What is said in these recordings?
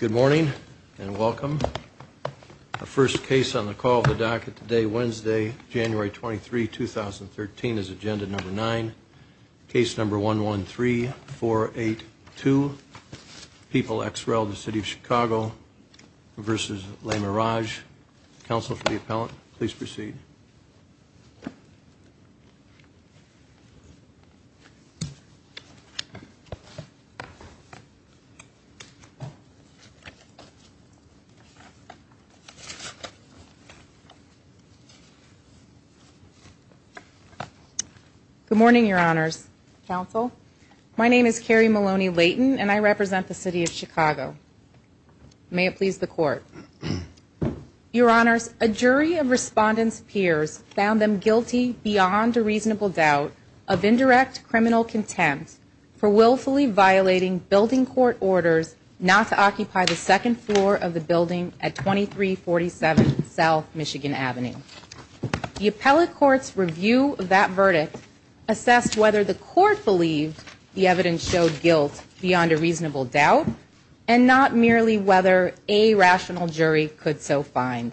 Good morning and welcome. The first case on the call of the docket today, Wednesday, January 23, 2013, is Agenda No. 9, Case No. 113482, People ex rel. The first case on the call of the City of Chicago v. Le Mirage. Counsel for the appellant, please proceed. Good morning, Your Honors. Counsel, my name is Carrie Maloney-Layton and I represent the City of Chicago. May it please the Court. Your Honors, a jury of respondents' peers found them guilty beyond a reasonable doubt of indirect criminal contempt for willfully violating building court orders not to occupy the second floor of the building at 2347 South Michigan Avenue. The appellate court's review of that verdict assessed whether the court believed the evidence showed guilt beyond a reasonable doubt and not merely whether a rational jury could so find.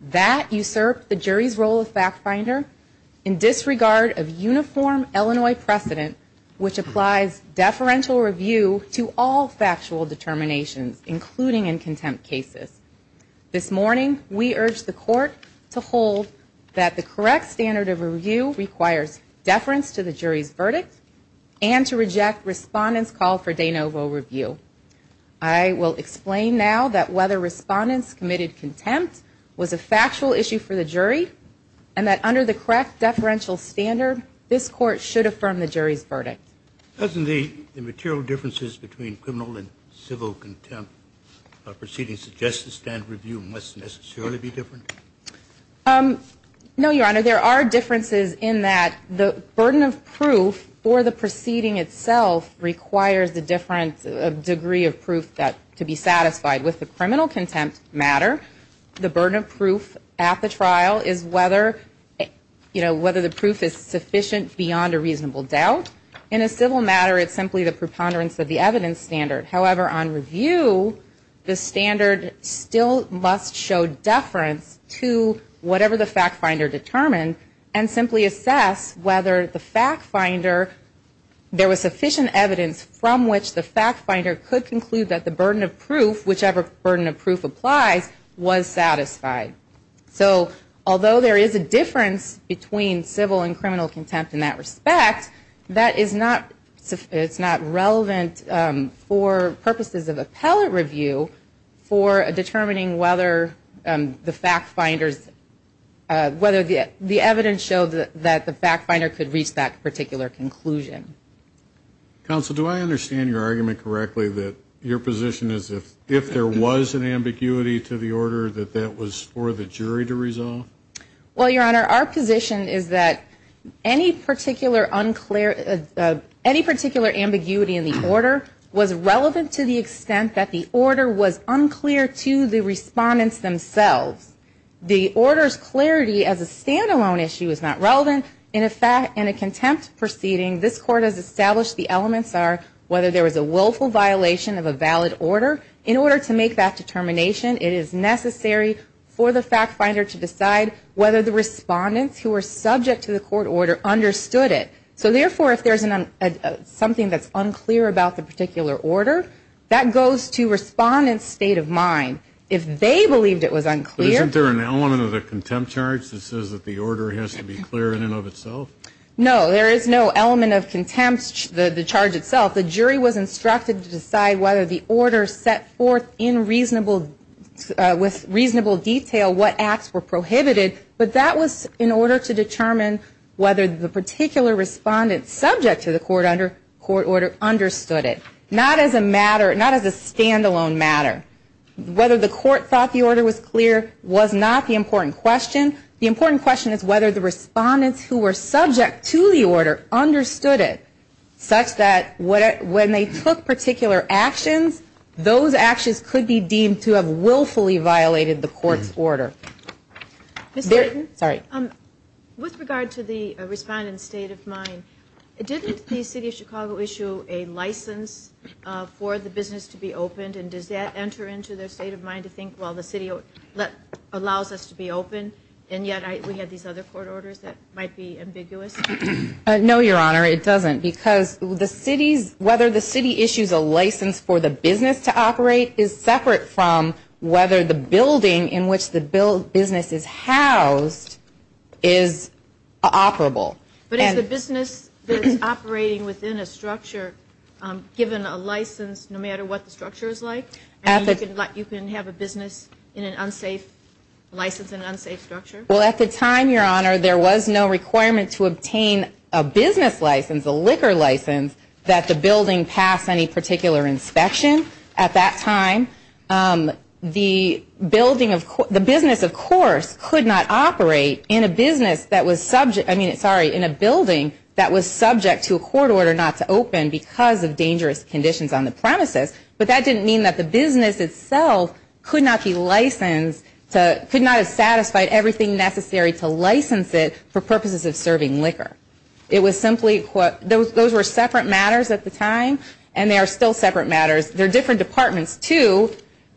That usurped the jury's role of fact finder in disregard of uniform Illinois precedent, which applies deferential review to all factual determinations, including in contempt cases. This morning, we urge the Court to hold that the correct standard of review requires deference to the jury's verdict and to reject respondents' call for de novo review. I will explain now that whether respondents committed contempt was a factual issue for the jury and that under the correct deferential standard, this Court should affirm the jury's verdict. Doesn't the material differences between criminal and civil contempt proceedings suggest the standard review must necessarily be different? No, Your Honor. There are differences in that the burden of proof for the proceeding itself requires a different degree of proof to be satisfied. With the criminal contempt matter, the burden of proof at the trial is whether the proof is sufficient beyond a reasonable doubt. In a civil matter, it's simply the preponderance of the evidence standard. However, on review, the standard still must show deference to whatever the fact finder determined and simply assess whether the fact finder, there was sufficient evidence from which the fact finder could conclude that the burden of proof, whichever burden of proof applies, was satisfied. So, although there is a difference between civil and criminal contempt in that respect, that is not relevant for purposes of appellate review for determining whether the fact finders, whether the evidence showed that the fact finder could reach that particular conclusion. Counsel, do I understand your argument correctly that your position is if there was an ambiguity to the order that that was for the jury to resolve? Well, Your Honor, our position is that any particular ambiguity in the order was relevant to the extent that the order was unclear to the respondents themselves. The order's clarity as a stand-alone issue is not relevant. In a contempt proceeding, this Court has established the elements are whether there was a willful violation of a valid order. In order to make that determination, it is necessary for the fact finder to decide whether the respondents who were subject to the court order understood it. So, therefore, if there's something that's unclear about the particular order, that goes to respondents' state of mind. If they believed it was unclear... But isn't there an element of the contempt charge that says that the order has to be clear in and of itself? No, there is no element of contempt, the charge itself. The jury was instructed to decide whether the order set forth in reasonable, with reasonable detail what acts were prohibited, but that was in order to determine whether the particular respondent subject to the court order understood it. Not as a matter, not as a stand-alone matter. Whether the court thought the order was clear was not the important question. The important question is whether the respondents who were subject to the order understood it, such that when they took particular actions, those actions could be deemed to have willfully violated the court's order. Ms. Dayton, with regard to the respondent's state of mind, didn't the City of Chicago issue a license for the business to be opened, and does that enter into their state of mind to think, well, the City allows us to be open, and yet we have these other court orders that might be ambiguous? No, Your Honor, it doesn't, because the City's, whether the City issues a license for the business to operate is separate from whether the building in which the business is housed is operable. But is the business that is operating within a structure given a license no matter what the structure is like, and you can have a business in an unsafe license in an unsafe structure? Well, at the time, Your Honor, there was no requirement to obtain a business license, a liquor license, that the building pass any particular inspection at that time. The building of, the business, of course, could not operate in a business that was subject, I mean, sorry, in a building that was subject to a court order not to open because of dangerous conditions on the premises, but that didn't mean that the business itself could not be licensed to, could not have satisfied everything necessary to license it for purposes of serving liquor. It was simply, those were separate matters at the time, and they are still separate matters. They're different departments, too.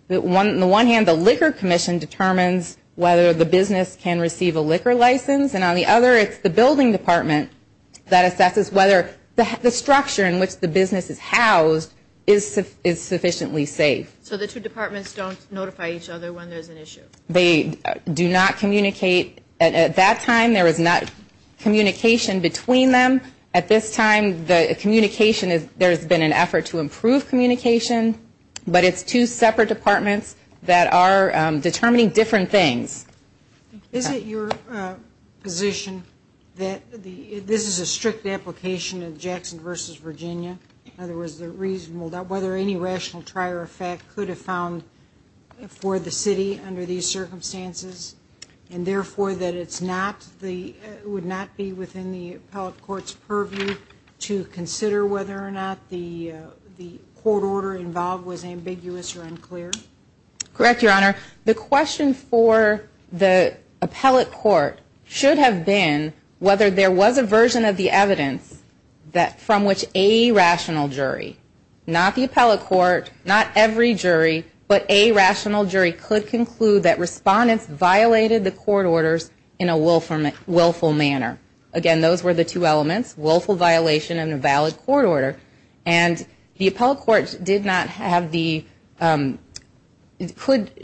On the one hand, the Liquor Commission determines whether the business can receive a liquor license, and on the other, it's the Building Department that assesses whether the structure in which the business is housed is sufficiently safe. So the two departments don't notify each other when there's an issue? They do not communicate. At that time, there was not communication between them. At this time, the communication, there's been an effort to improve communication, but it's two separate departments that are determining different things. Is it your position that this is a strict application of Jackson v. Virginia? In other words, the reason whether any rational trier of fact could have found for the city under these circumstances and therefore that it's not the, would not be within the appellate court's purview to consider whether or not the court order involved was ambiguous or unclear? Correct, Your Honor. The question for the appellate court should have been whether there was a version of the evidence from which a rational jury, not the appellate court, not every jury, but a rational jury could conclude that respondents violated the court orders in a willful manner. Again, those were the two elements, willful violation and a valid court order, and the appellate court did not have the,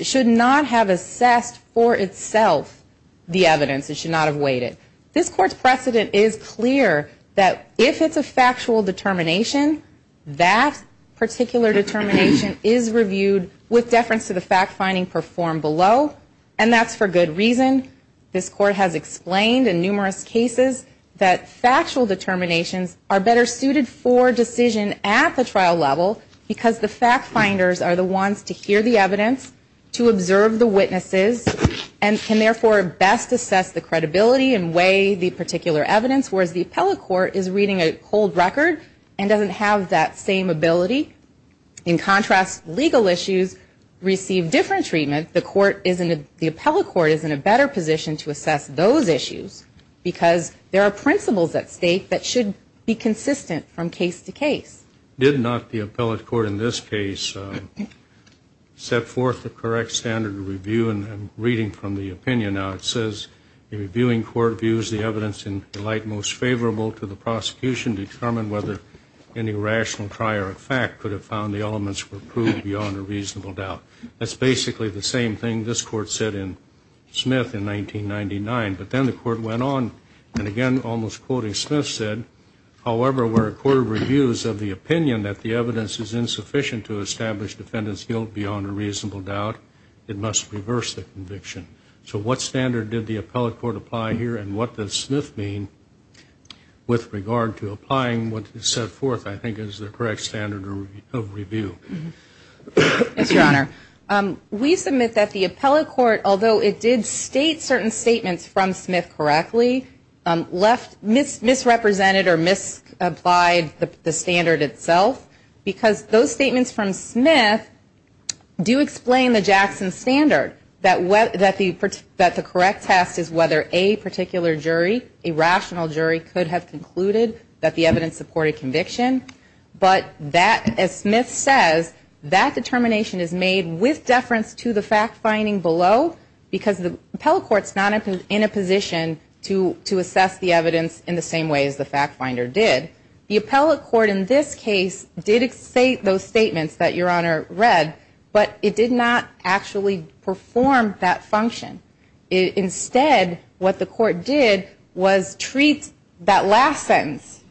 should not have assessed for itself the evidence. It should not have weighed it. This court's precedent is clear that if it's a factual determination, that particular determination is reviewed with deference to the fact-finding performed below, and that's for good reason. This court has explained in numerous cases that factual determinations are better suited for decision at the trial level because the fact-finders are the ones to hear the evidence, to observe the witnesses, and can therefore best assess the credibility and weigh the particular evidence, whereas the appellate court is reading a cold record and doesn't have that same ability. In contrast, legal issues receive different treatment. The court isn't, the appellate court is in a better position to assess those issues because there are principles at stake that should be consistent from case to case. Did not the appellate court in this case set forth the correct standard of review and I'm reading from the opinion now. It says, the reviewing court views the evidence in light most favorable to the prosecution to determine whether any rational prior effect could have found the elements were proved beyond a reasonable doubt. That's basically the same thing this court said in Smith in 1999, but then the court went on and again almost quoting Smith said, however, where a court reviews of the opinion that the evidence is insufficient to establish defendant's guilt beyond a reasonable doubt, it must reverse the conviction. So what standard did the appellate court apply here and what does Smith mean with regard to applying what is set forth I think is the correct standard of review. Yes, Your Honor. We submit that the appellate court, although it did state certain statements from Smith correctly, misrepresented or misapplied the standard itself because those statements from Smith do explain the Jackson standard that the correct test is whether a particular jury, a rational jury could have concluded that the evidence supported conviction, but that, as Smith says, that determination is made with deference to the fact finding below because the appellate court is not in a position to assess the evidence in the same way as the fact finder did. The appellate court in this case did state those statements that Your Honor read, but it did not actually perform that function. Instead, what the court did was treat that last sentence,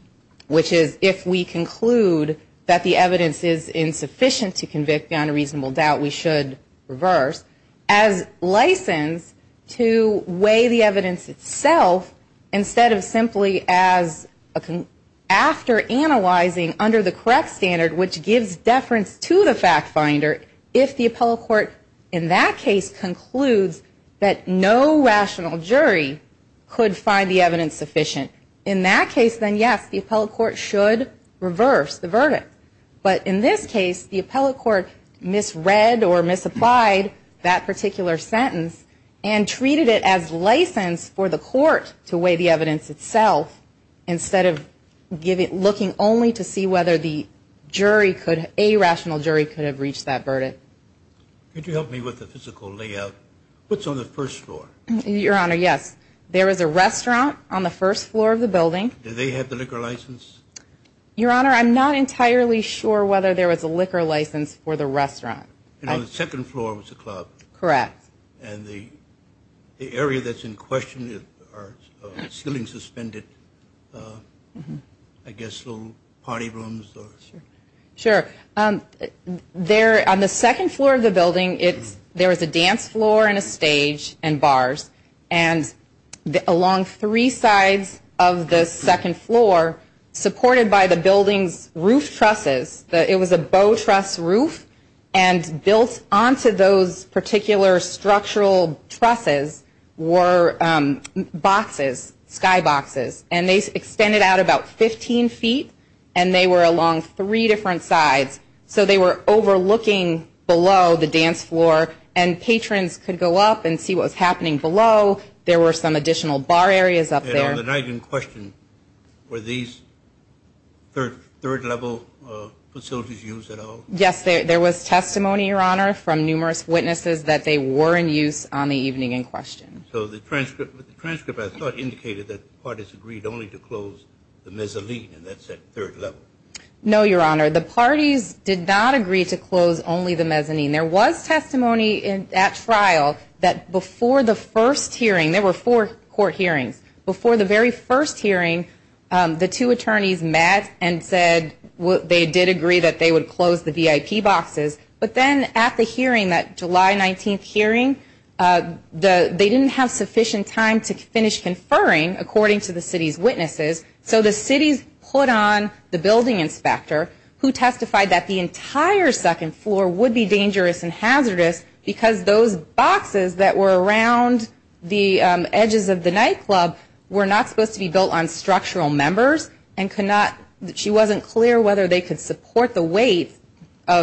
which is if we conclude that the evidence is insufficient to convict beyond a reasonable doubt, we should reverse, as license to weigh the evidence itself instead of simply as after analyzing under the correct standard, which gives deference to the fact that no rational jury could find the evidence sufficient. In that case, then yes, the appellate court should reverse the verdict, but in this case, the appellate court misread or misapplied that particular sentence and treated it as license for the court to weigh the evidence itself instead of looking only to see whether a rational jury could have reached that verdict. Could you help me with the physical layout? What's on the first floor? Your Honor, yes. There is a restaurant on the first floor of the building. Do they have the liquor license? Your Honor, I'm not entirely sure whether there was a liquor license for the restaurant. And on the second floor was a club. Correct. And the area that's in question is ceiling suspended, I guess little party rooms. Sure. On the second floor of the building, there is a dance floor and a stage and bars. And along three sides of the second floor, supported by the building's roof trusses, it was a bow truss roof, and built onto those particular structural trusses were boxes, sky boxes. And they extended out about 15 feet, and they were along three different sides. So they were overlooking below the dance floor, and patrons could go up and see what was happening below. There were some additional bar areas up there. And on the night in question, were these third-level facilities used at all? Yes, there was testimony, Your Honor, from numerous witnesses that they were in use on the evening in question. So the transcript, I thought, indicated that the parties agreed only to close the mezzanine, and that's at third level. No, Your Honor. The parties did not agree to close only the mezzanine. There was testimony at trial that before the first hearing, there were four court hearings, before the very first hearing, the two attorneys met and said they did agree that they would close the VIP boxes. But then at the hearing, that July 19th hearing, they didn't have sufficient time to finish conferring, according to the city's witnesses. So the city put on the building inspector who testified that the entire second floor would be dangerous and hazardous because those boxes that were around the edges of the nightclub were not supposed to be built on structural members and she wasn't clear whether they could support the weight,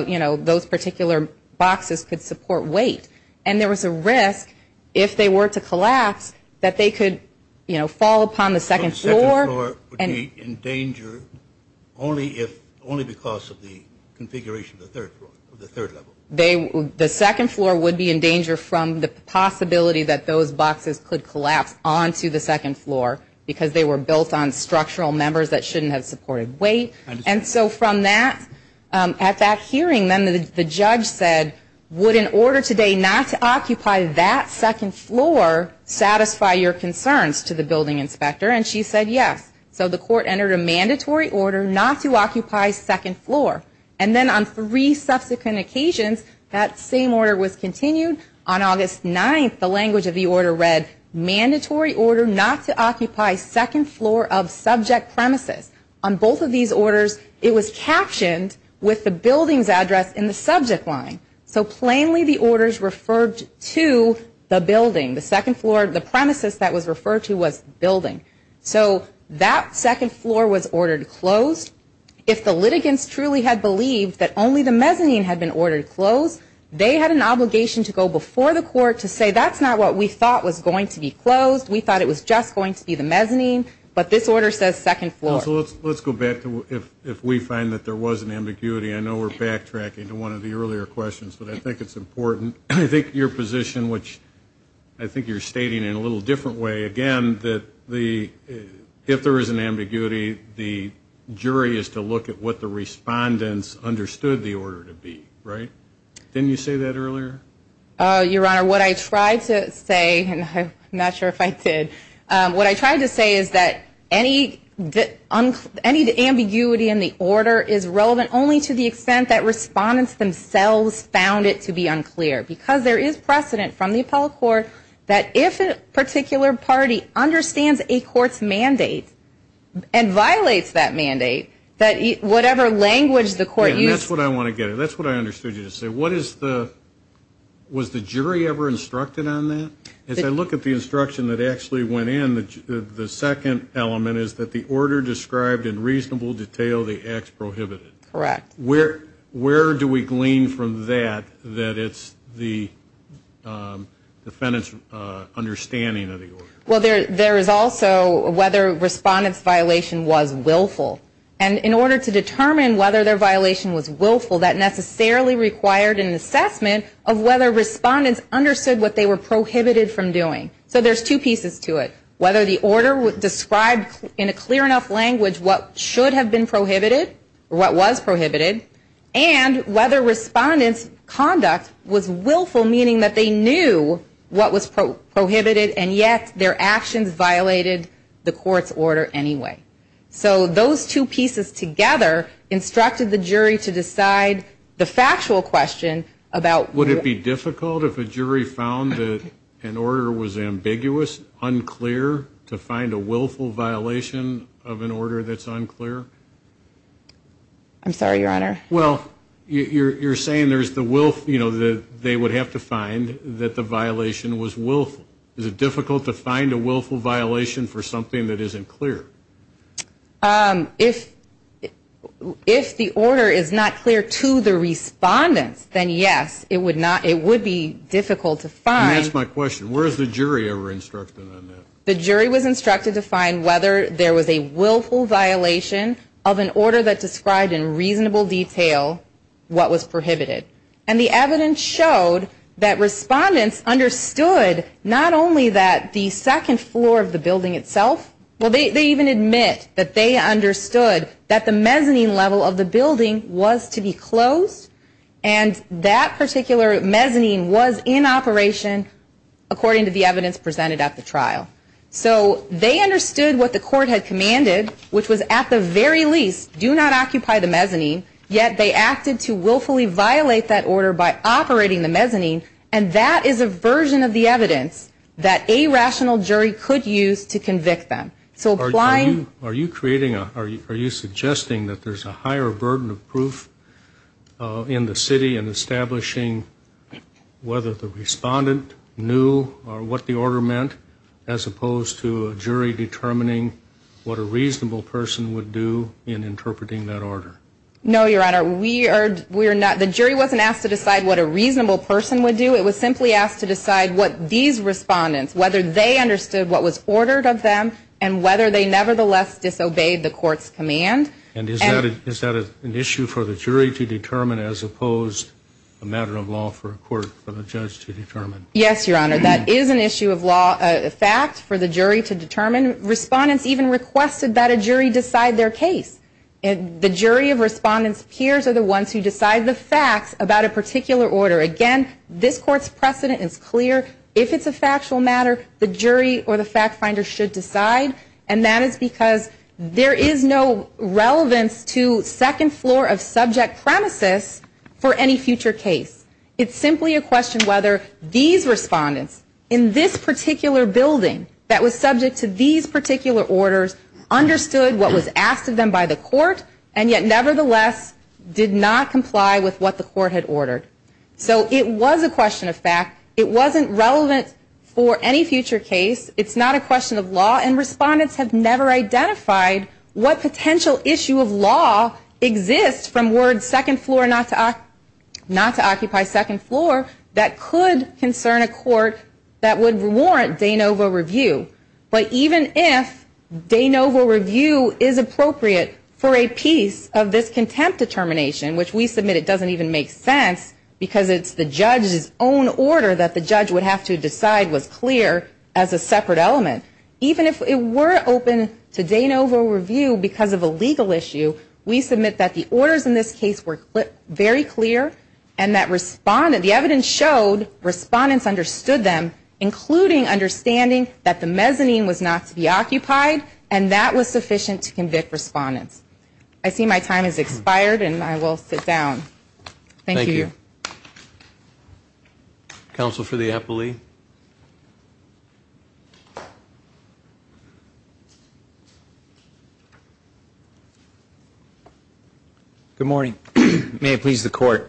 you know, those particular boxes could support weight. And there was a risk, if they were to collapse, that they could, you know, fall upon the second floor. So the second floor would be in danger only because of the configuration of the third level? The second floor would be in danger from the possibility that those boxes could collapse onto the second floor because they were built on structural members that shouldn't have supported weight. And so from that, at that hearing, then the judge said, would an order today not to occupy that second floor satisfy your concerns to the building inspector? And she said yes. So the court entered a mandatory order not to occupy second floor. And then on three subsequent occasions, that same order was continued. On August 9th, the language of the order read, mandatory order not to occupy second floor of subject premises. On both of these orders, it was captioned with the building's address in the subject line. So plainly the orders referred to the building. The second floor, the premises that was referred to was building. So that second floor was ordered closed. If the litigants truly had believed that only the mezzanine had been ordered closed, they had an obligation to go before the court to say that's not what we thought was going to be closed. We thought it was just going to be the mezzanine. But this order says second floor. So let's go back to if we find that there was an ambiguity. I know we're backtracking to one of the earlier questions, but I think it's important. I think your position, which I think you're stating in a little different way, again, that if there is an ambiguity, the jury is to look at what the respondents understood the order to be, right? Didn't you say that earlier? Your Honor, what I tried to say, and I'm not sure if I did, what I tried to say is that any ambiguity in the order is relevant only to the extent that respondents themselves found it to be unclear. Because there is precedent from the appellate court that if a particular party understands a court's mandate and violates that mandate, that whatever language the court used to say. That's what I want to get at. That's what I understood you to say. Was the jury ever instructed on that? As I look at the instruction that actually went in, the second element is that the order described in reasonable detail the acts prohibited. Correct. Where do we glean from that that it's the defendant's understanding of the order? Well, there is also whether a respondent's violation was willful. And in order to determine whether their violation was willful, that necessarily required an assessment of whether respondents understood what they were prohibited from doing. So there's two pieces to it. Whether the order described in a clear enough language what should have been prohibited, what was prohibited, and whether respondents' conduct was willful, meaning that they knew what was prohibited, and yet their actions violated the court's order anyway. So those two pieces together instructed the jury to decide the factual question about. Would it be difficult if a jury found that an order was ambiguous, unclear, to find a willful violation of an order that's unclear? I'm sorry, Your Honor. Well, you're saying there's the will, you know, that they would have to find that the violation was willful. Is it difficult to find a willful violation for something that isn't clear? If the order is not clear to the respondents, then yes, it would be difficult to find. And that's my question. Where is the jury ever instructed on that? The jury was instructed to find whether there was a willful violation of an order that described in reasonable detail what was prohibited. And the evidence showed that respondents understood not only that the second floor of the building itself, well, they even admit that they understood that the mezzanine level of the building was to be closed, and that particular mezzanine was in operation according to the evidence presented at the trial. So they understood what the court had commanded, which was at the very least do not occupy the mezzanine, yet they acted to willfully violate that order by operating the mezzanine, and that is a version of the evidence that a rational jury could use to convict them. Are you suggesting that there's a higher burden of proof in the city in establishing whether the respondent knew what the order meant, as opposed to a jury determining what a reasonable person would do in interpreting that order? No, Your Honor. The jury wasn't asked to decide what a reasonable person would do. It was simply asked to decide what these respondents, whether they understood what was ordered of them and whether they nevertheless disobeyed the court's command. And is that an issue for the jury to determine as opposed to a matter of law for a court or a judge to determine? Yes, Your Honor. That is an issue of law, a fact, for the jury to determine. Respondents even requested that a jury decide their case. The jury of respondents' peers are the ones who decide the facts about a particular order. Again, this Court's precedent is clear. If it's a factual matter, the jury or the fact finder should decide, and that is because there is no relevance to second floor of subject premises for any future case. It's simply a question whether these respondents in this particular building that was subject to these particular orders understood what was asked of them by the court and yet nevertheless did not comply with what the court had ordered. So it was a question of fact. It wasn't relevant for any future case. It's not a question of law, and respondents have never identified what potential issue of law exists from words not to occupy second floor that could concern a court that would warrant de novo review. But even if de novo review is appropriate for a piece of this contempt determination, which we submit it doesn't even make sense because it's the judge's own order that the judge would have to decide was clear as a separate element, even if it were open to de novo review because of a legal issue, we submit that the orders in this case were very clear and that the evidence showed respondents understood them, including understanding that the mezzanine was not to be occupied and that was sufficient to convict respondents. I see my time has expired, and I will sit down. Thank you. Thank you. Counsel for the appellee. Good morning. May it please the court,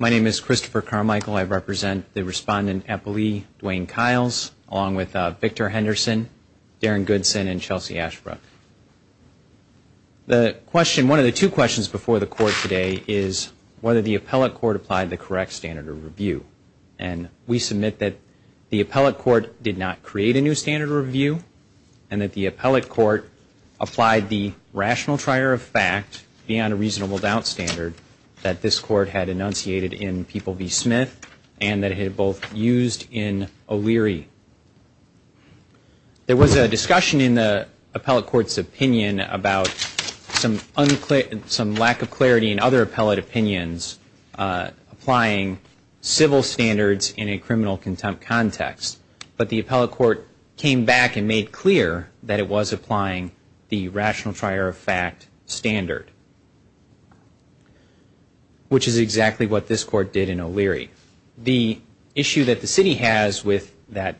my name is Christopher Carmichael. I represent the respondent appellee, Dwayne Kiles, along with Victor Henderson, Darren Goodson, and Chelsea Ashbrook. The question, one of the two questions before the court today, is whether the appellate court applied the correct standard of review. And we submit that the appellate court did not create a new standard of review and that the appellate court applied the rational trier of fact, beyond a reasonable doubt standard, that this court had enunciated in People v. Smith and that it had both used in O'Leary. There was a discussion in the appellate court's opinion about some lack of clarity in other appellate opinions applying civil standards in a criminal contempt context. But the appellate court came back and made clear that it was applying the rational trier of fact standard, which is exactly what this court did in O'Leary. The issue that the city has with that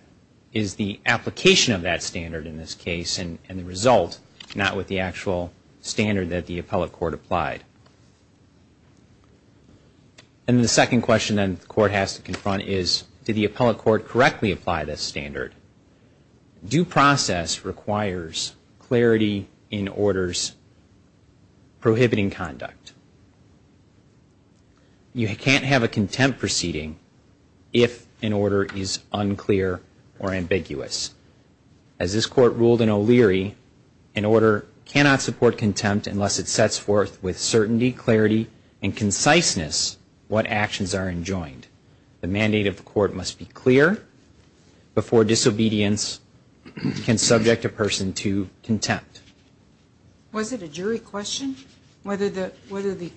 is the application of that standard in this case and the result, not with the actual standard that the appellate court applied. And the second question then the court has to confront is, did the appellate court correctly apply this standard? Due process requires clarity in orders prohibiting conduct. You can't have a contempt proceeding if an order is unclear or ambiguous. As this court ruled in O'Leary, an order cannot support contempt unless it sets forth with certainty, clarity and conciseness what actions are enjoined. The mandate of the court must be clear before disobedience can subject a person to contempt. Was it a jury question whether the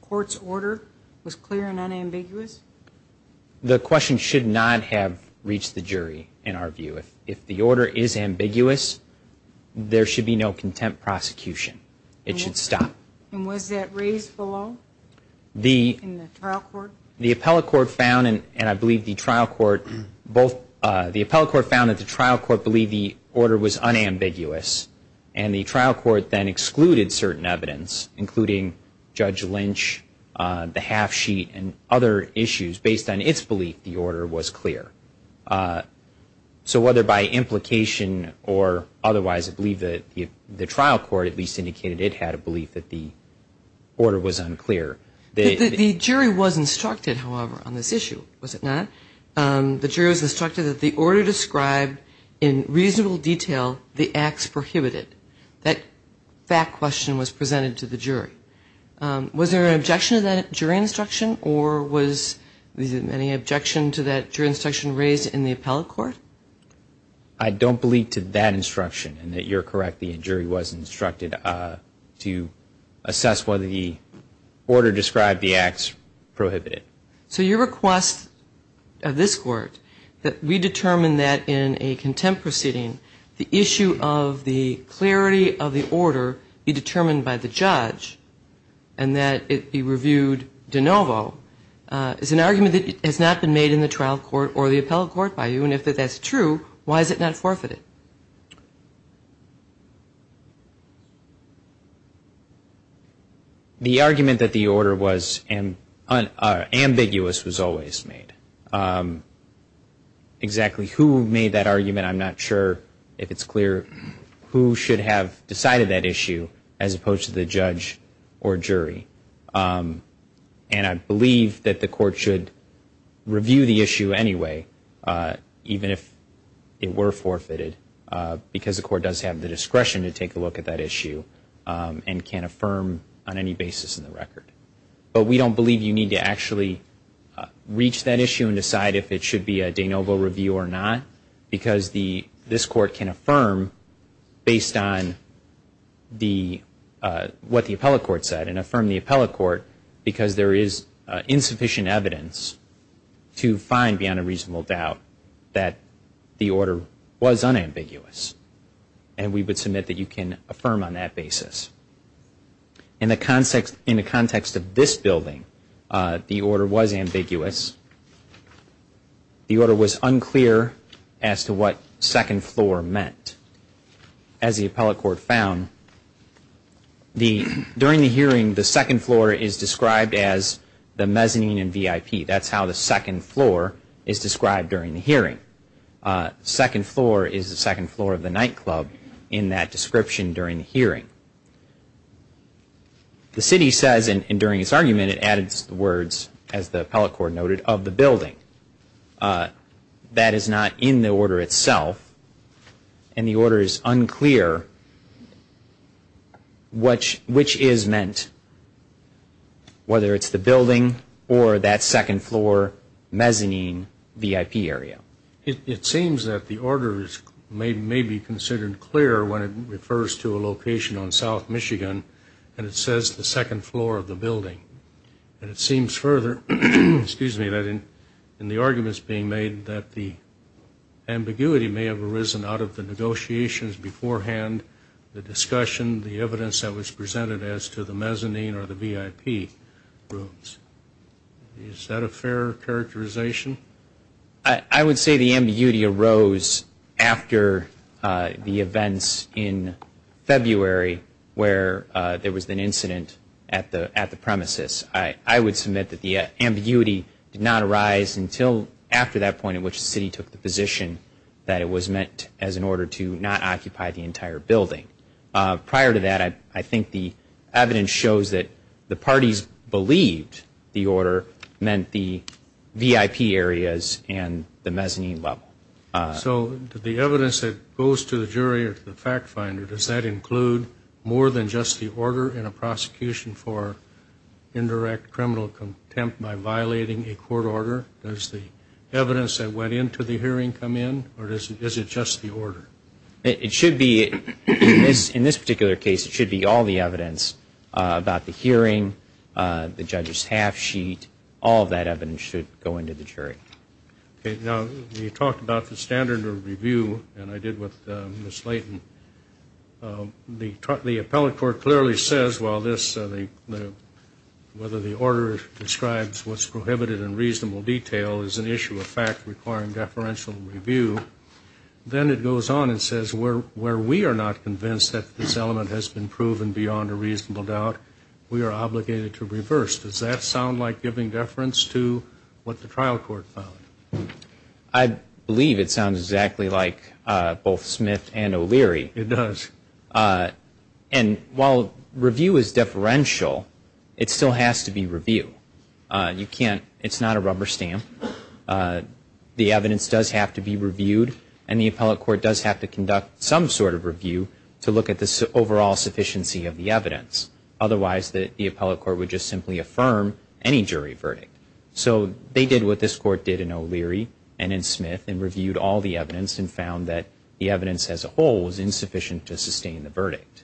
court's order was clear and unambiguous? The question should not have reached the jury in our view. If the order is ambiguous, there should be no contempt prosecution. It should stop. And was that raised below in the trial court? The appellate court found, and I believe the trial court, both the appellate court found that the trial court believed the order was unambiguous and the trial court then excluded certain evidence including Judge Lynch, the half sheet and other issues based on its belief the order was clear. So whether by implication or otherwise, I believe that the trial court at least indicated it had a belief that the order was unclear. The jury was instructed, however, on this issue, was it not? The jury was instructed that the order described in reasonable detail the acts prohibited. That fact question was presented to the jury. Was there an objection to that jury instruction or was there any objection to that jury instruction raised in the appellate court? I don't believe to that instruction and that you're correct, the jury was instructed to assess whether the order described the acts prohibited. So your request of this court that we determine that in a contempt proceeding, the issue of the clarity of the order be determined by the judge and that it be reviewed de novo is an argument that has not been made in the trial court or the appellate court by you and if that's true, why is it not forfeited? And the argument that the order was ambiguous was always made. Exactly who made that argument, I'm not sure if it's clear, who should have decided that issue as opposed to the judge or jury. And I believe that the court should review the issue anyway even if it were forfeited because the court does have the discretion to take a look at that issue and can affirm on any basis in the record. But we don't believe you need to actually reach that issue and decide if it should be a de novo review or not because this court can affirm based on what the appellate court said and affirm the appellate court because there is insufficient evidence to find beyond a reasonable doubt that the order was unambiguous and we would submit that you can affirm on that basis. In the context of this building, the order was ambiguous. The order was unclear as to what second floor meant. As the appellate court found, during the hearing, the second floor is described as the mezzanine and VIP. That's how the second floor is described during the hearing. The second floor is the second floor of the nightclub in that description during the hearing. The city says, and during its argument, it added the words, as the appellate court noted, of the building. That is not in the order itself, and the order is unclear which is meant, whether it's the building or that second floor mezzanine VIP area. It seems that the order may be considered clear when it refers to a location on South Michigan And it seems further that in the arguments being made that the ambiguity may have arisen out of the negotiations beforehand, the discussion, the evidence that was presented as to the mezzanine or the VIP rooms. Is that a fair characterization? I would say the ambiguity arose after the events in February where there was an incident at the premises. I would submit that the ambiguity did not arise until after that point in which the city took the position that it was meant as an order to not occupy the entire building. Prior to that, I think the evidence shows that the parties believed the order meant the VIP areas and the mezzanine level. So the evidence that goes to the jury or to the fact finder, does that include more than just the order in a prosecution for indirect criminal contempt by violating a court order? Does the evidence that went into the hearing come in, or is it just the order? It should be, in this particular case, it should be all the evidence about the hearing, the judge's half sheet, all of that evidence should go into the jury. Now, you talked about the standard of review, and I did with Ms. Layton. The appellate court clearly says, well, this, whether the order describes what's prohibited in reasonable detail is an issue of fact requiring deferential review. Then it goes on and says where we are not convinced that this element has been proven beyond a reasonable doubt, we are obligated to reverse. Does that sound like giving deference to what the trial court found? I believe it sounds exactly like both Smith and O'Leary. It does. And while review is deferential, it still has to be review. You can't, it's not a rubber stamp. The evidence does have to be reviewed, and the appellate court does have to conduct some sort of review to look at the overall sufficiency of the evidence, otherwise the appellate court would just simply affirm any jury verdict. So they did what this court did in O'Leary and in Smith and reviewed all the evidence and found that the evidence as a whole was insufficient to sustain the verdict.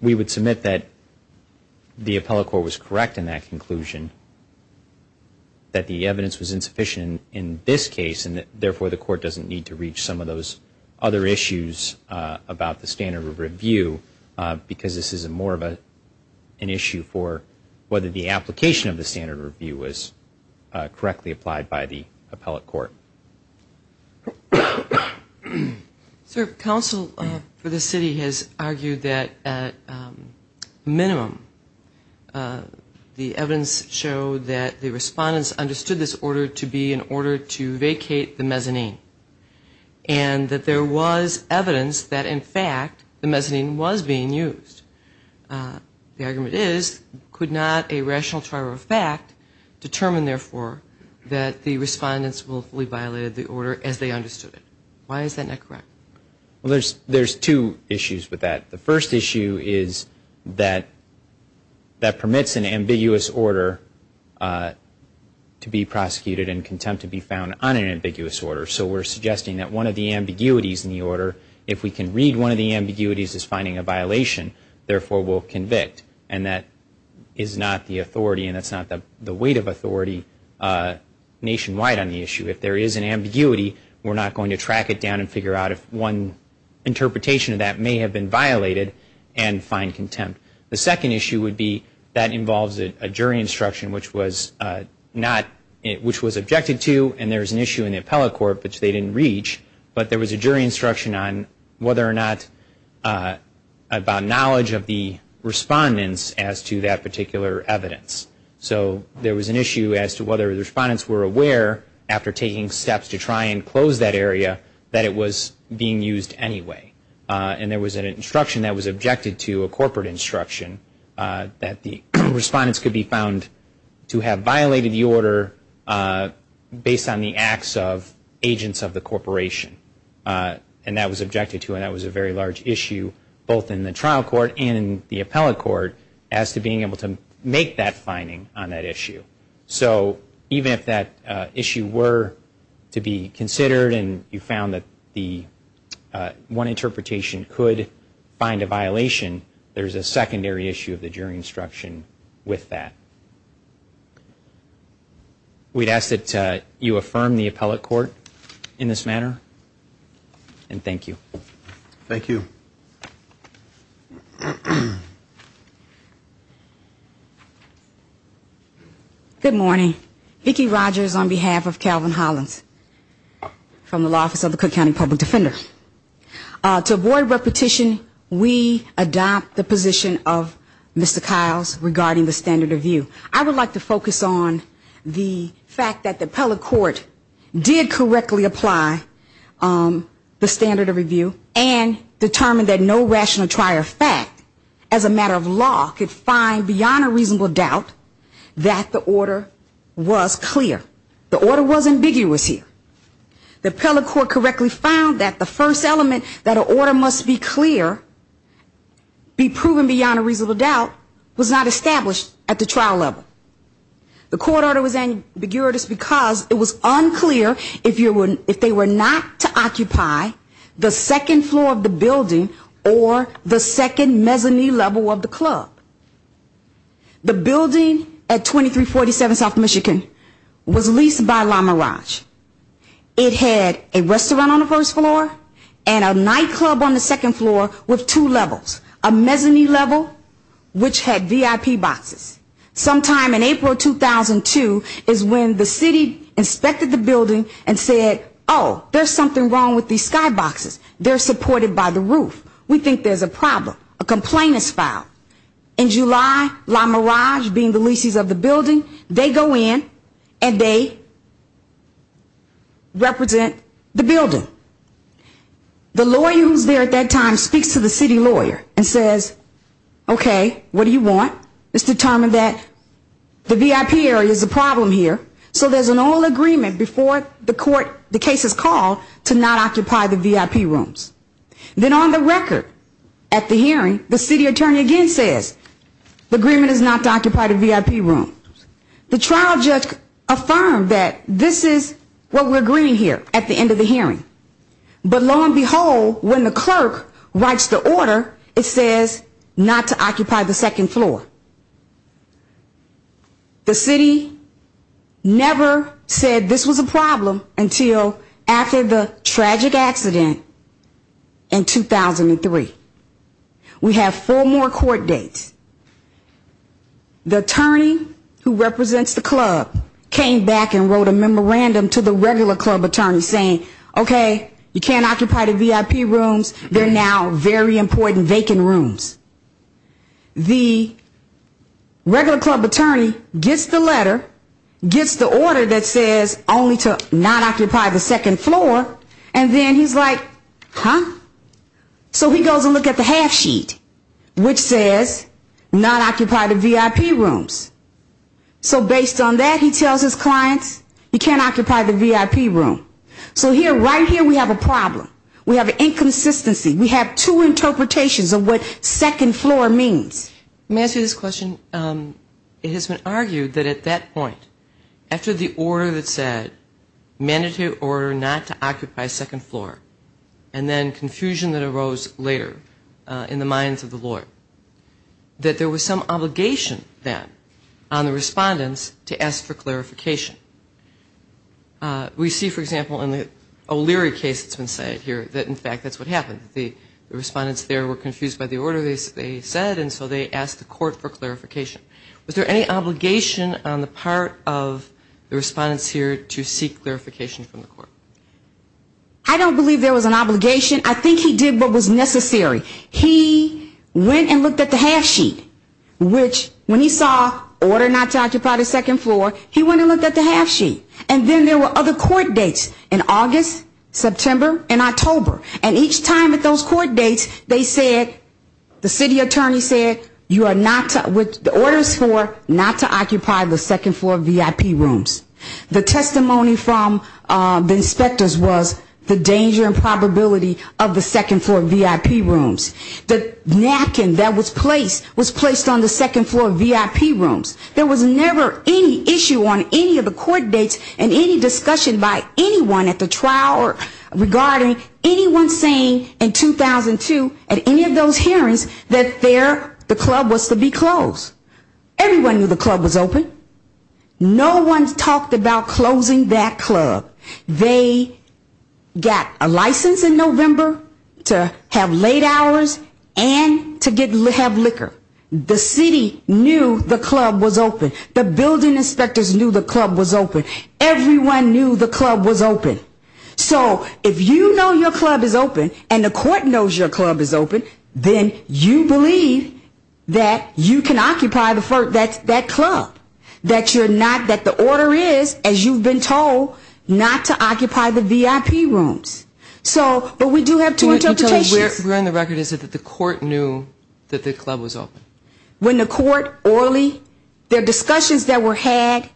We would submit that the appellate court was correct in that conclusion, that the evidence was insufficient in this case, and therefore the court doesn't need to reach some of those other issues about the standard of review because this is more of an issue for whether the application of the standard of review was correctly applied by the appellate court. Sir, counsel for the city has argued that, at minimum, the evidence showed that the respondents understood this order to be in order to vacate the mezzanine and that there was evidence that, in fact, the mezzanine was being used. The argument is, could not a rational trial of fact determine, therefore, that the respondents willfully violated the order as they understood it? Why is that not correct? Well, there's two issues with that. The first issue is that that permits an ambiguous order to be prosecuted and contempt to be found on an ambiguous order. So we're suggesting that one of the ambiguities in the order, if we can read one of the ambiguities as finding a violation, therefore we'll convict. And that is not the authority and that's not the weight of authority nationwide on the issue. If there is an ambiguity, we're not going to track it down and figure out if one interpretation of that may have been violated and find contempt. The second issue would be that involves a jury instruction which was objected to and there was an issue in the appellate court which they didn't reach, but there was a jury instruction on whether or not, about knowledge of the respondents as to that particular evidence. So there was an issue as to whether the respondents were aware, after taking steps to try and close that area, that it was being used anyway. And there was an instruction that was objected to, a corporate instruction, that the respondents could be found to have violated the order based on the acts of agents of the corporation. And that was objected to and that was a very large issue, both in the trial court and in the appellate court, as to being able to make that finding on that issue. So even if that issue were to be considered and you found that one interpretation could find a violation, there's a secondary issue of the jury instruction with that. We'd ask that you affirm the appellate court in this manner. And thank you. Thank you. Good morning. Vicki Rogers on behalf of Calvin Hollins from the Law Office of the Cook County Public Defender. To avoid repetition, we adopt the position of Mr. Kyle's regarding the standard of view. I would like to focus on the fact that the appellate court did correctly apply the standard of review and determined that no rational trier of fact, as a matter of law, could find beyond a reasonable doubt that the order was clear. The order was ambiguous here. The appellate court correctly found that the first element that an order must be clear, be proven beyond a reasonable doubt, was not established at the trial level. The court order was ambiguous because it was unclear if they were not to occupy the second floor of the building or the second mezzanine level of the club. The building at 2347 South Michigan was leased by La Mirage. It had a restaurant on the first floor and a nightclub on the second floor with two levels, a mezzanine level, which had VIP boxes. Sometime in April 2002 is when the city inspected the building and said, oh, there's something wrong with these skyboxes. They're supported by the roof. We think there's a problem. A complaint is filed. In July, La Mirage, being the leases of the building, they go in and they represent the building. The lawyer who's there at that time speaks to the city lawyer and says, okay, what do you want? Let's determine that the VIP area is a problem here. So there's an oil agreement before the court, the case is called, to not occupy the VIP rooms. Then on the record at the hearing, the city attorney again says, the agreement is not to occupy the VIP room. The trial judge affirmed that this is what we're agreeing here at the end of the hearing. But lo and behold, when the clerk writes the order, it says not to occupy the second floor. The city never said this was a problem until after the tragic accident, the second floor. In 2003. We have four more court dates. The attorney who represents the club came back and wrote a memorandum to the regular club attorney saying, okay, you can't occupy the VIP rooms. They're now very important vacant rooms. The regular club attorney gets the letter, gets the order that says only to not occupy the second floor, and then he's like, huh? So he goes and looks at the half sheet, which says not occupy the VIP rooms. So based on that, he tells his clients, you can't occupy the VIP room. So right here we have a problem. We have an inconsistency. We have two interpretations of what second floor means. May I say this question? It has been argued that at that point, after the order that said mandatory order not to occupy second floor, and then confusion that arose later in the minds of the lawyer, that there was some obligation then on the respondents to ask for clarification. We see, for example, in the O'Leary case that's been cited here, that in fact that's what happened. The respondents there were confused by the order they said, and so they asked the court for clarification. Was there any obligation on the part of the respondents here to seek clarification from the court? I don't believe there was an obligation. I think he did what was necessary. He went and looked at the half sheet, which when he saw order not to occupy the second floor, he went and looked at the half sheet. And then there were other court dates in August, September, and October. And each time at those court dates they said, the city attorney said, you are not to, with the orders for not to occupy the second floor VIP rooms. The testimony from the inspectors was the danger and probability of the second floor VIP rooms. The napkin that was placed was placed on the second floor VIP rooms. There was never any issue on any of the court dates and any discussion by anyone at the trial regarding anyone saying in 2002 at any of those hearings that the club was to be closed. Everyone knew the club was open. They got a license in November to have late hours and to have liquor. The city knew the club was open. The building inspectors knew the club was open. Everyone knew the club was open. So if you know your club is open and the court knows your club is open, then you believe that you can occupy that club. You are not to occupy the VIP rooms. But we do have two interpretations. We're on the record that the court knew that the club was open. When the court orally, the discussions that were had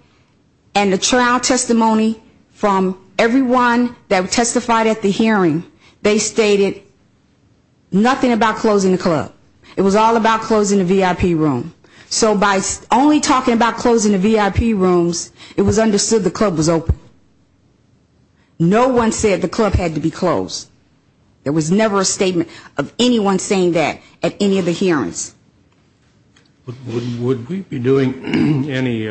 and the trial testimony from everyone that testified at the hearing, they stated nothing about closing the club. It was all about closing the VIP room. So by only talking about closing the VIP rooms, it was understood the club was open. No one said the club had to be closed. There was never a statement of anyone saying that at any of the hearings. Would we be doing any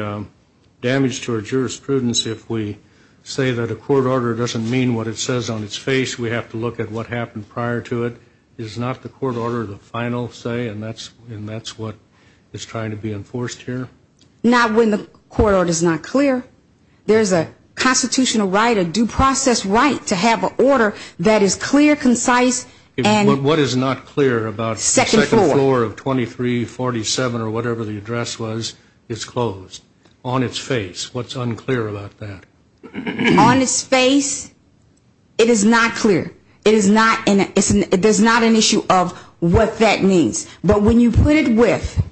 damage to our jurisprudence if we say that a court order doesn't mean what it says on its face? We have to look at what happened prior to it? Is not the court order the final say and that's what is trying to be enforced here? Not when the court order is not clear. There's a constitutional right, a due process right to have an order that is clear, concise. What is not clear about the second floor of 2347 or whatever the address was is closed on its face. What's unclear about that? On its face, it is not clear. There's not an issue of what that means. But when you put it with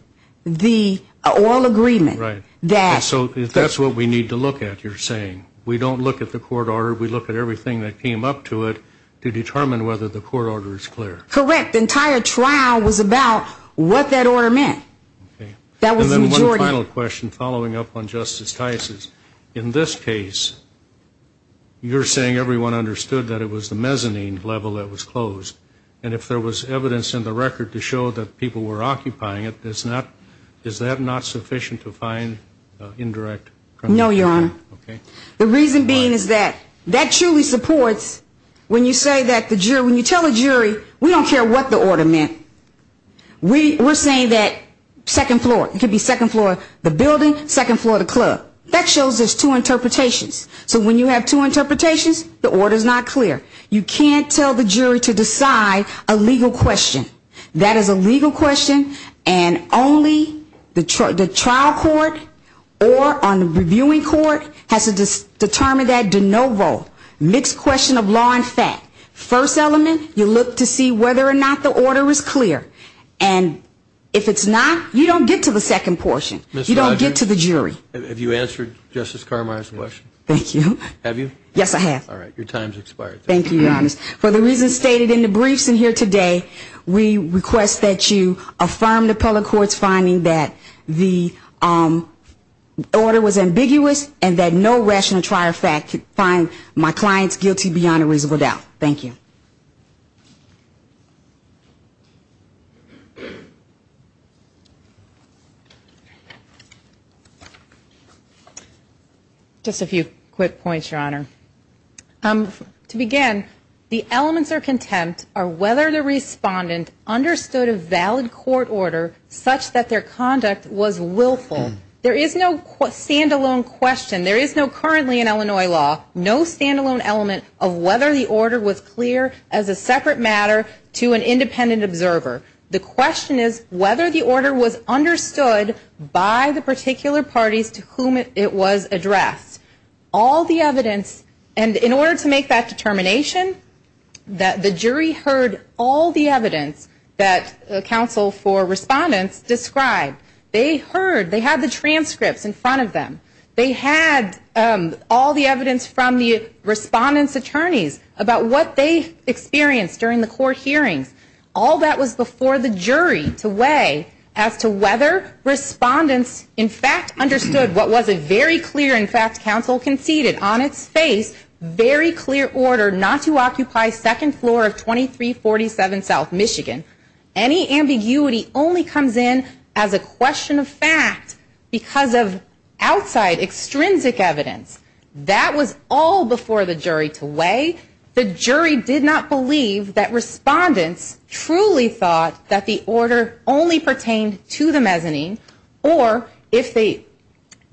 the oil agreement, that's what we need to look at, you're saying. We don't look at the court order. We look at everything that came up to it to determine whether the court order is clear. Correct, the entire trial was about what that order meant. And then one final question following up on Justice Tice's. In this case, you're saying everyone understood that it was the mezzanine level that was closed. And if there was evidence in the record to show that people were occupying it, is that not sufficient to find indirect? No, Your Honor. The reason being is that that truly supports when you say that the jury, when you tell the jury, we don't care what the order meant. We're saying that second floor, it could be second floor, the building, second floor, the club. That shows there's two interpretations. So when you have two interpretations, the order's not clear. You can't tell the jury to decide a legal question. That is a legal question, and only the trial court or on the reviewing court has to determine that de novo, mixed question of law and fact. First element, you look to see whether or not the order is clear. And if it's not, you don't get to the second portion. You don't get to the jury. Have you answered Justice Carmichael's question? Thank you. Have you? All right. Thank you, Your Honor. For the reasons stated in the briefs in here today, we request that you affirm the appellate court's finding that the order was ambiguous and that no rational trial fact could find my clients guilty beyond a reasonable doubt. Thank you. Just a few quick points, Your Honor. To begin, the elements of contempt are whether the respondent understood a valid court order such that their conduct was willful. There is no stand-alone question. There is no currently in Illinois law, no stand-alone element of whether the order was clear as a separate matter to an independent observer. The question is whether the order was understood by the particular parties to whom it was addressed. All the evidence, and in order to make that determination, that the jury heard all the evidence that counsel for respondents described. They heard, they had the transcripts in front of them. They had all the evidence from the respondents' attorneys about what they experienced during the court hearings. All that was before the jury to weigh as to whether respondents, in fact, understood what was a very clear, in fact, counsel conceded. On its face, very clear order not to occupy second floor of 2347 South Michigan. Any ambiguity only comes in as a question of fact because of outside, extrinsic evidence. That was all before the jury to weigh. The jury did not believe that respondents truly thought that the order only pertained to the mezzanine or if they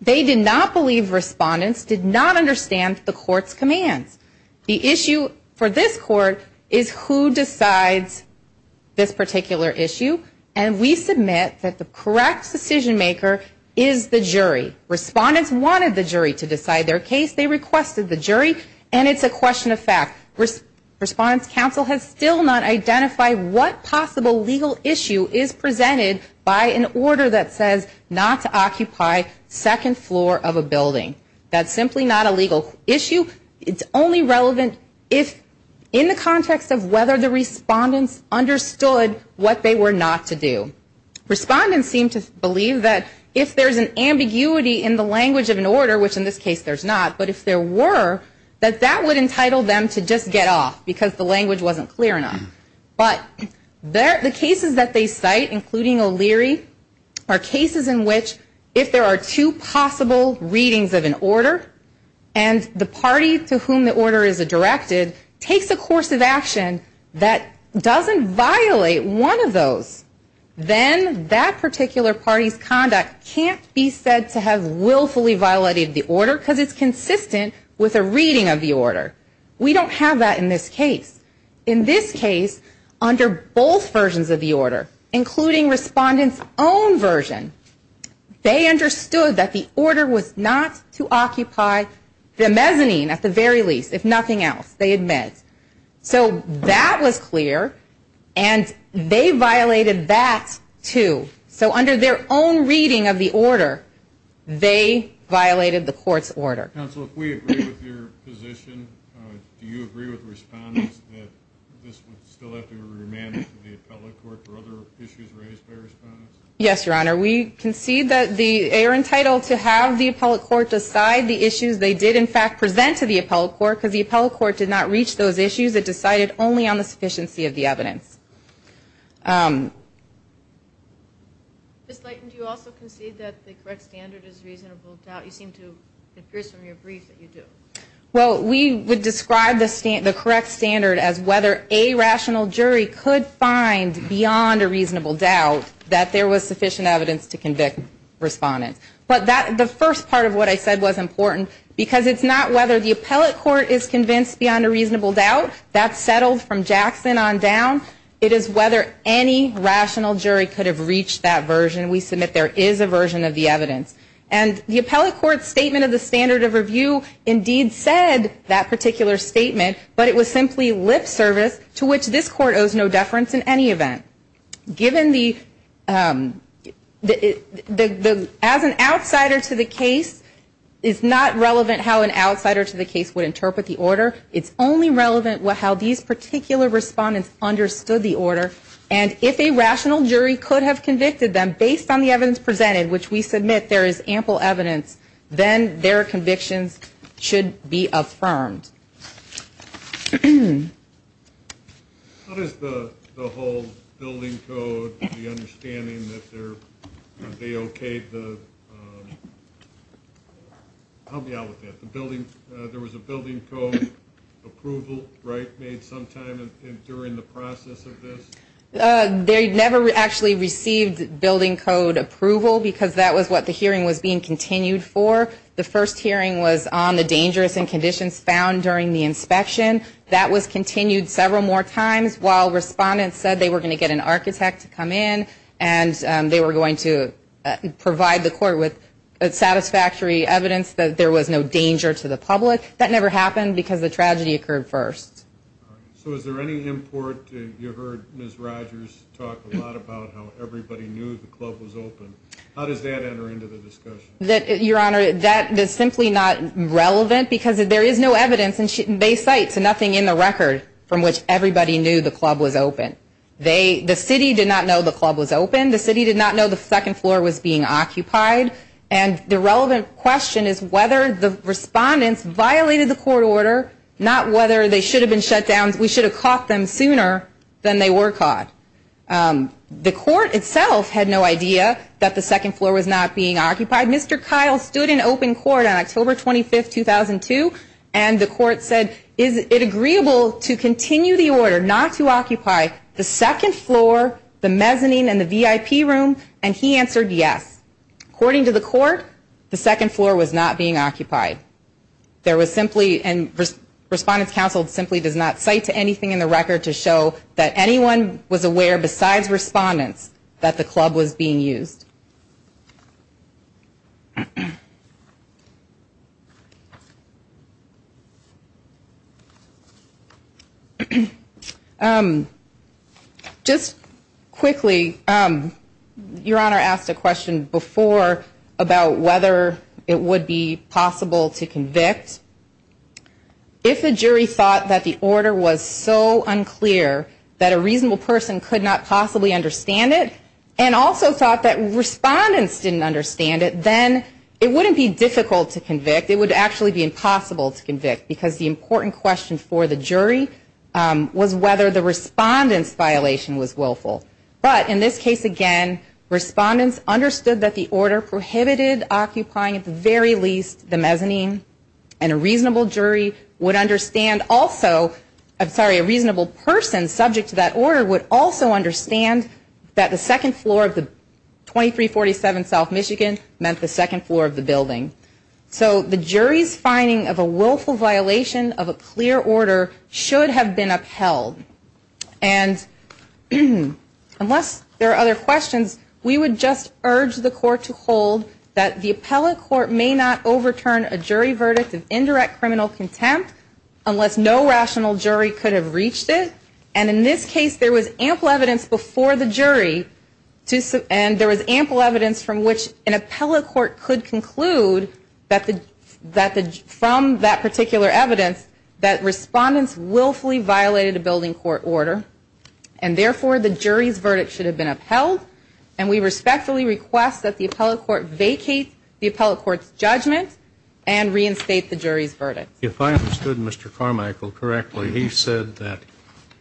did not believe respondents did not understand the court's commands. The issue for this court is who decides this particular issue, and we submit that the correct decision maker is the jury. Respondents wanted the jury to decide their case. They requested the jury, and it's a question of fact. Respondents' counsel has still not identified what possible legal issue is presented by an order that says not to occupy second floor of a building. That's simply not a legal issue. It's only relevant if in the context of whether the respondents understood what they were not to do. Respondents seem to believe that if there's an ambiguity in the language of an order, which in this case there's not, but if there were, that that would entitle them to just get off because the language wasn't clear enough. But the cases that they cite, including O'Leary, are cases in which if there are two possible readings of evidence, and the party to whom the order is directed takes a course of action that doesn't violate one of those, then that particular party's conduct can't be said to have willfully violated the order because it's consistent with a reading of the order. We don't have that in this case. In this case, under both versions of the order, including respondents' own version, they understood that the order was not to occupy the mezzanine at the very least, if nothing else, they admit. So that was clear, and they violated that, too. So under their own reading of the order, they violated the court's order. Counsel, if we agree with your position, do you agree with respondents that this would still have to be remanded to the appellate court for other issues raised by respondents? Yes, Your Honor. We concede that they are entitled to have the appellate court decide the issues they did, in fact, present to the appellate court, because the appellate court did not reach those issues. It decided only on the sufficiency of the evidence. Ms. Leighton, do you also concede that the correct standard is reasonable doubt? It appears from your brief that you do. Well, we would describe the correct standard as whether a rational jury could find beyond a reasonable doubt that there was sufficient evidence to convict respondents. But the first part of what I said was important, because it's not whether the appellate court is convinced beyond a reasonable doubt. That's settled from Jackson on down. It is whether any rational jury could have reached that version. And we submit there is a version of the evidence. And the appellate court's statement of the standard of review indeed said that particular statement, but it was simply lip service to which this court owes no deference in any event. Given the, as an outsider to the case, it's not relevant how an outsider to the case would interpret the order. It's only relevant how these particular respondents understood the order. And if a rational jury could have convicted them based on the evidence presented, which we submit there is ample evidence, then their convictions should be affirmed. How does the whole building code, the understanding that they're, they okayed the, I'll be out with that. The building, there was a building code approval, right, made sometime during the process of this. They never actually received building code approval, because that was what the hearing was being continued for. The first hearing was on the dangerous and conditions found during the inspection. That was continued several more times, while respondents said they were going to get an architect to come in, and they were going to provide the court with satisfactory evidence that there was no danger to the public. That never happened, because the tragedy occurred first. When I heard Judge Rogers talk a lot about how everybody knew the club was open, how does that enter into the discussion? Your Honor, that is simply not relevant, because there is no evidence, and they cite nothing in the record from which everybody knew the club was open. They, the city did not know the club was open. The city did not know the second floor was being occupied. And the relevant question is whether the respondents violated the court order, not whether they should have been shut down. We should have caught them sooner than they were caught. The court itself had no idea that the second floor was not being occupied. Mr. Kyle stood in open court on October 25, 2002, and the court said, is it agreeable to continue the order not to occupy the second floor, the mezzanine, and the VIP room, and he answered yes. According to the court, the second floor was not being occupied. There was simply, and Respondents Council simply does not cite anything in the record to show that anyone was aware besides respondents that the club was being used. Just quickly, Your Honor asked a question before about whether it would be possible to convict. If the jury thought that the order was so unclear that a reasonable person could not possibly understand it, and also thought that respondents didn't understand it, then it wouldn't be difficult to convict. It would actually be impossible to convict, because the important question for the jury was whether the respondents' violation was willful. But in this case, again, respondents understood that the order prohibited occupying at the very least the mezzanine, and a reasonable jury would understand also, I'm sorry, a reasonable person subject to that order would also understand that the second floor of the 2347 South Michigan meant the second floor of the building. So the jury's finding of a willful violation of a clear order should have been upheld. And unless there are other questions, we would just urge the court to hold that the appellate court may not overturn a jury verdict of indirect criminal contempt unless no rational jury could have reached it. And in this case, there was ample evidence before the jury, and there was ample evidence from which an appellate court could have reached it. And therefore, the jury's verdict should have been upheld. And we respectfully request that the appellate court vacate the appellate court's judgment and reinstate the jury's verdict. If I understood Mr. Carmichael correctly, he said that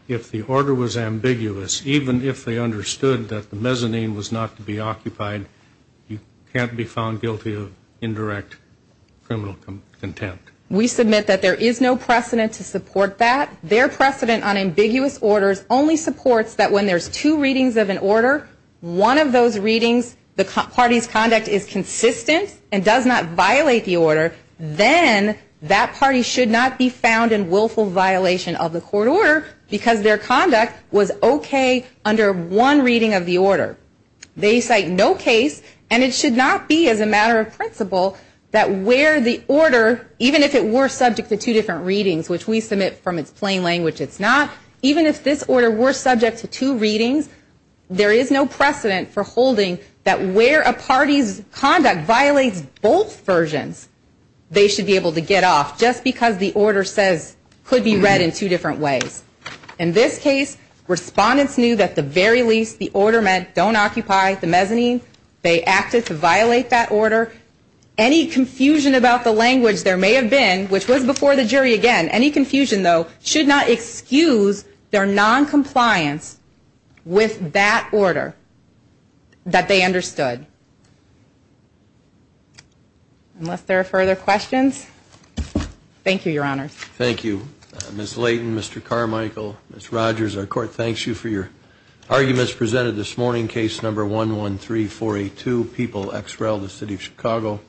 if the order was ambiguous, even if they understood that the mezzanine was not to be overturned, they should not be found guilty of indirect criminal contempt. We submit that there is no precedent to support that. Their precedent on ambiguous orders only supports that when there's two readings of an order, one of those readings, the party's conduct is consistent and does not violate the order, then that party should not be found in willful violation of the court order because their conduct was okay under one reading of the order. They cite no case, and it should not be as a matter of principle that where the order, even if it were subject to two different readings, which we submit from its plain language it's not, even if this order were subject to two readings, there is no precedent for holding that where a party's conduct violates both versions, they should be able to get off just because the order says could be read in two different ways. In this case, respondents knew that at the very least the order meant don't occupy the mezzanine. They acted to violate that order. Any confusion about the language there may have been, which was before the jury again, any confusion though, should not excuse their noncompliance with that order that they understood. Unless there are further questions, thank you, Your Honor. Thank you. Ms. Layton, Mr. Carmichael, Ms. Rogers, our court thanks you for your arguments presented this morning. Case number 113482, People x Rel, the City of Chicago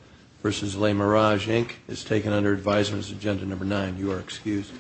v. Les Mirage, Inc. is taken under advisement as agenda number nine. You are excused.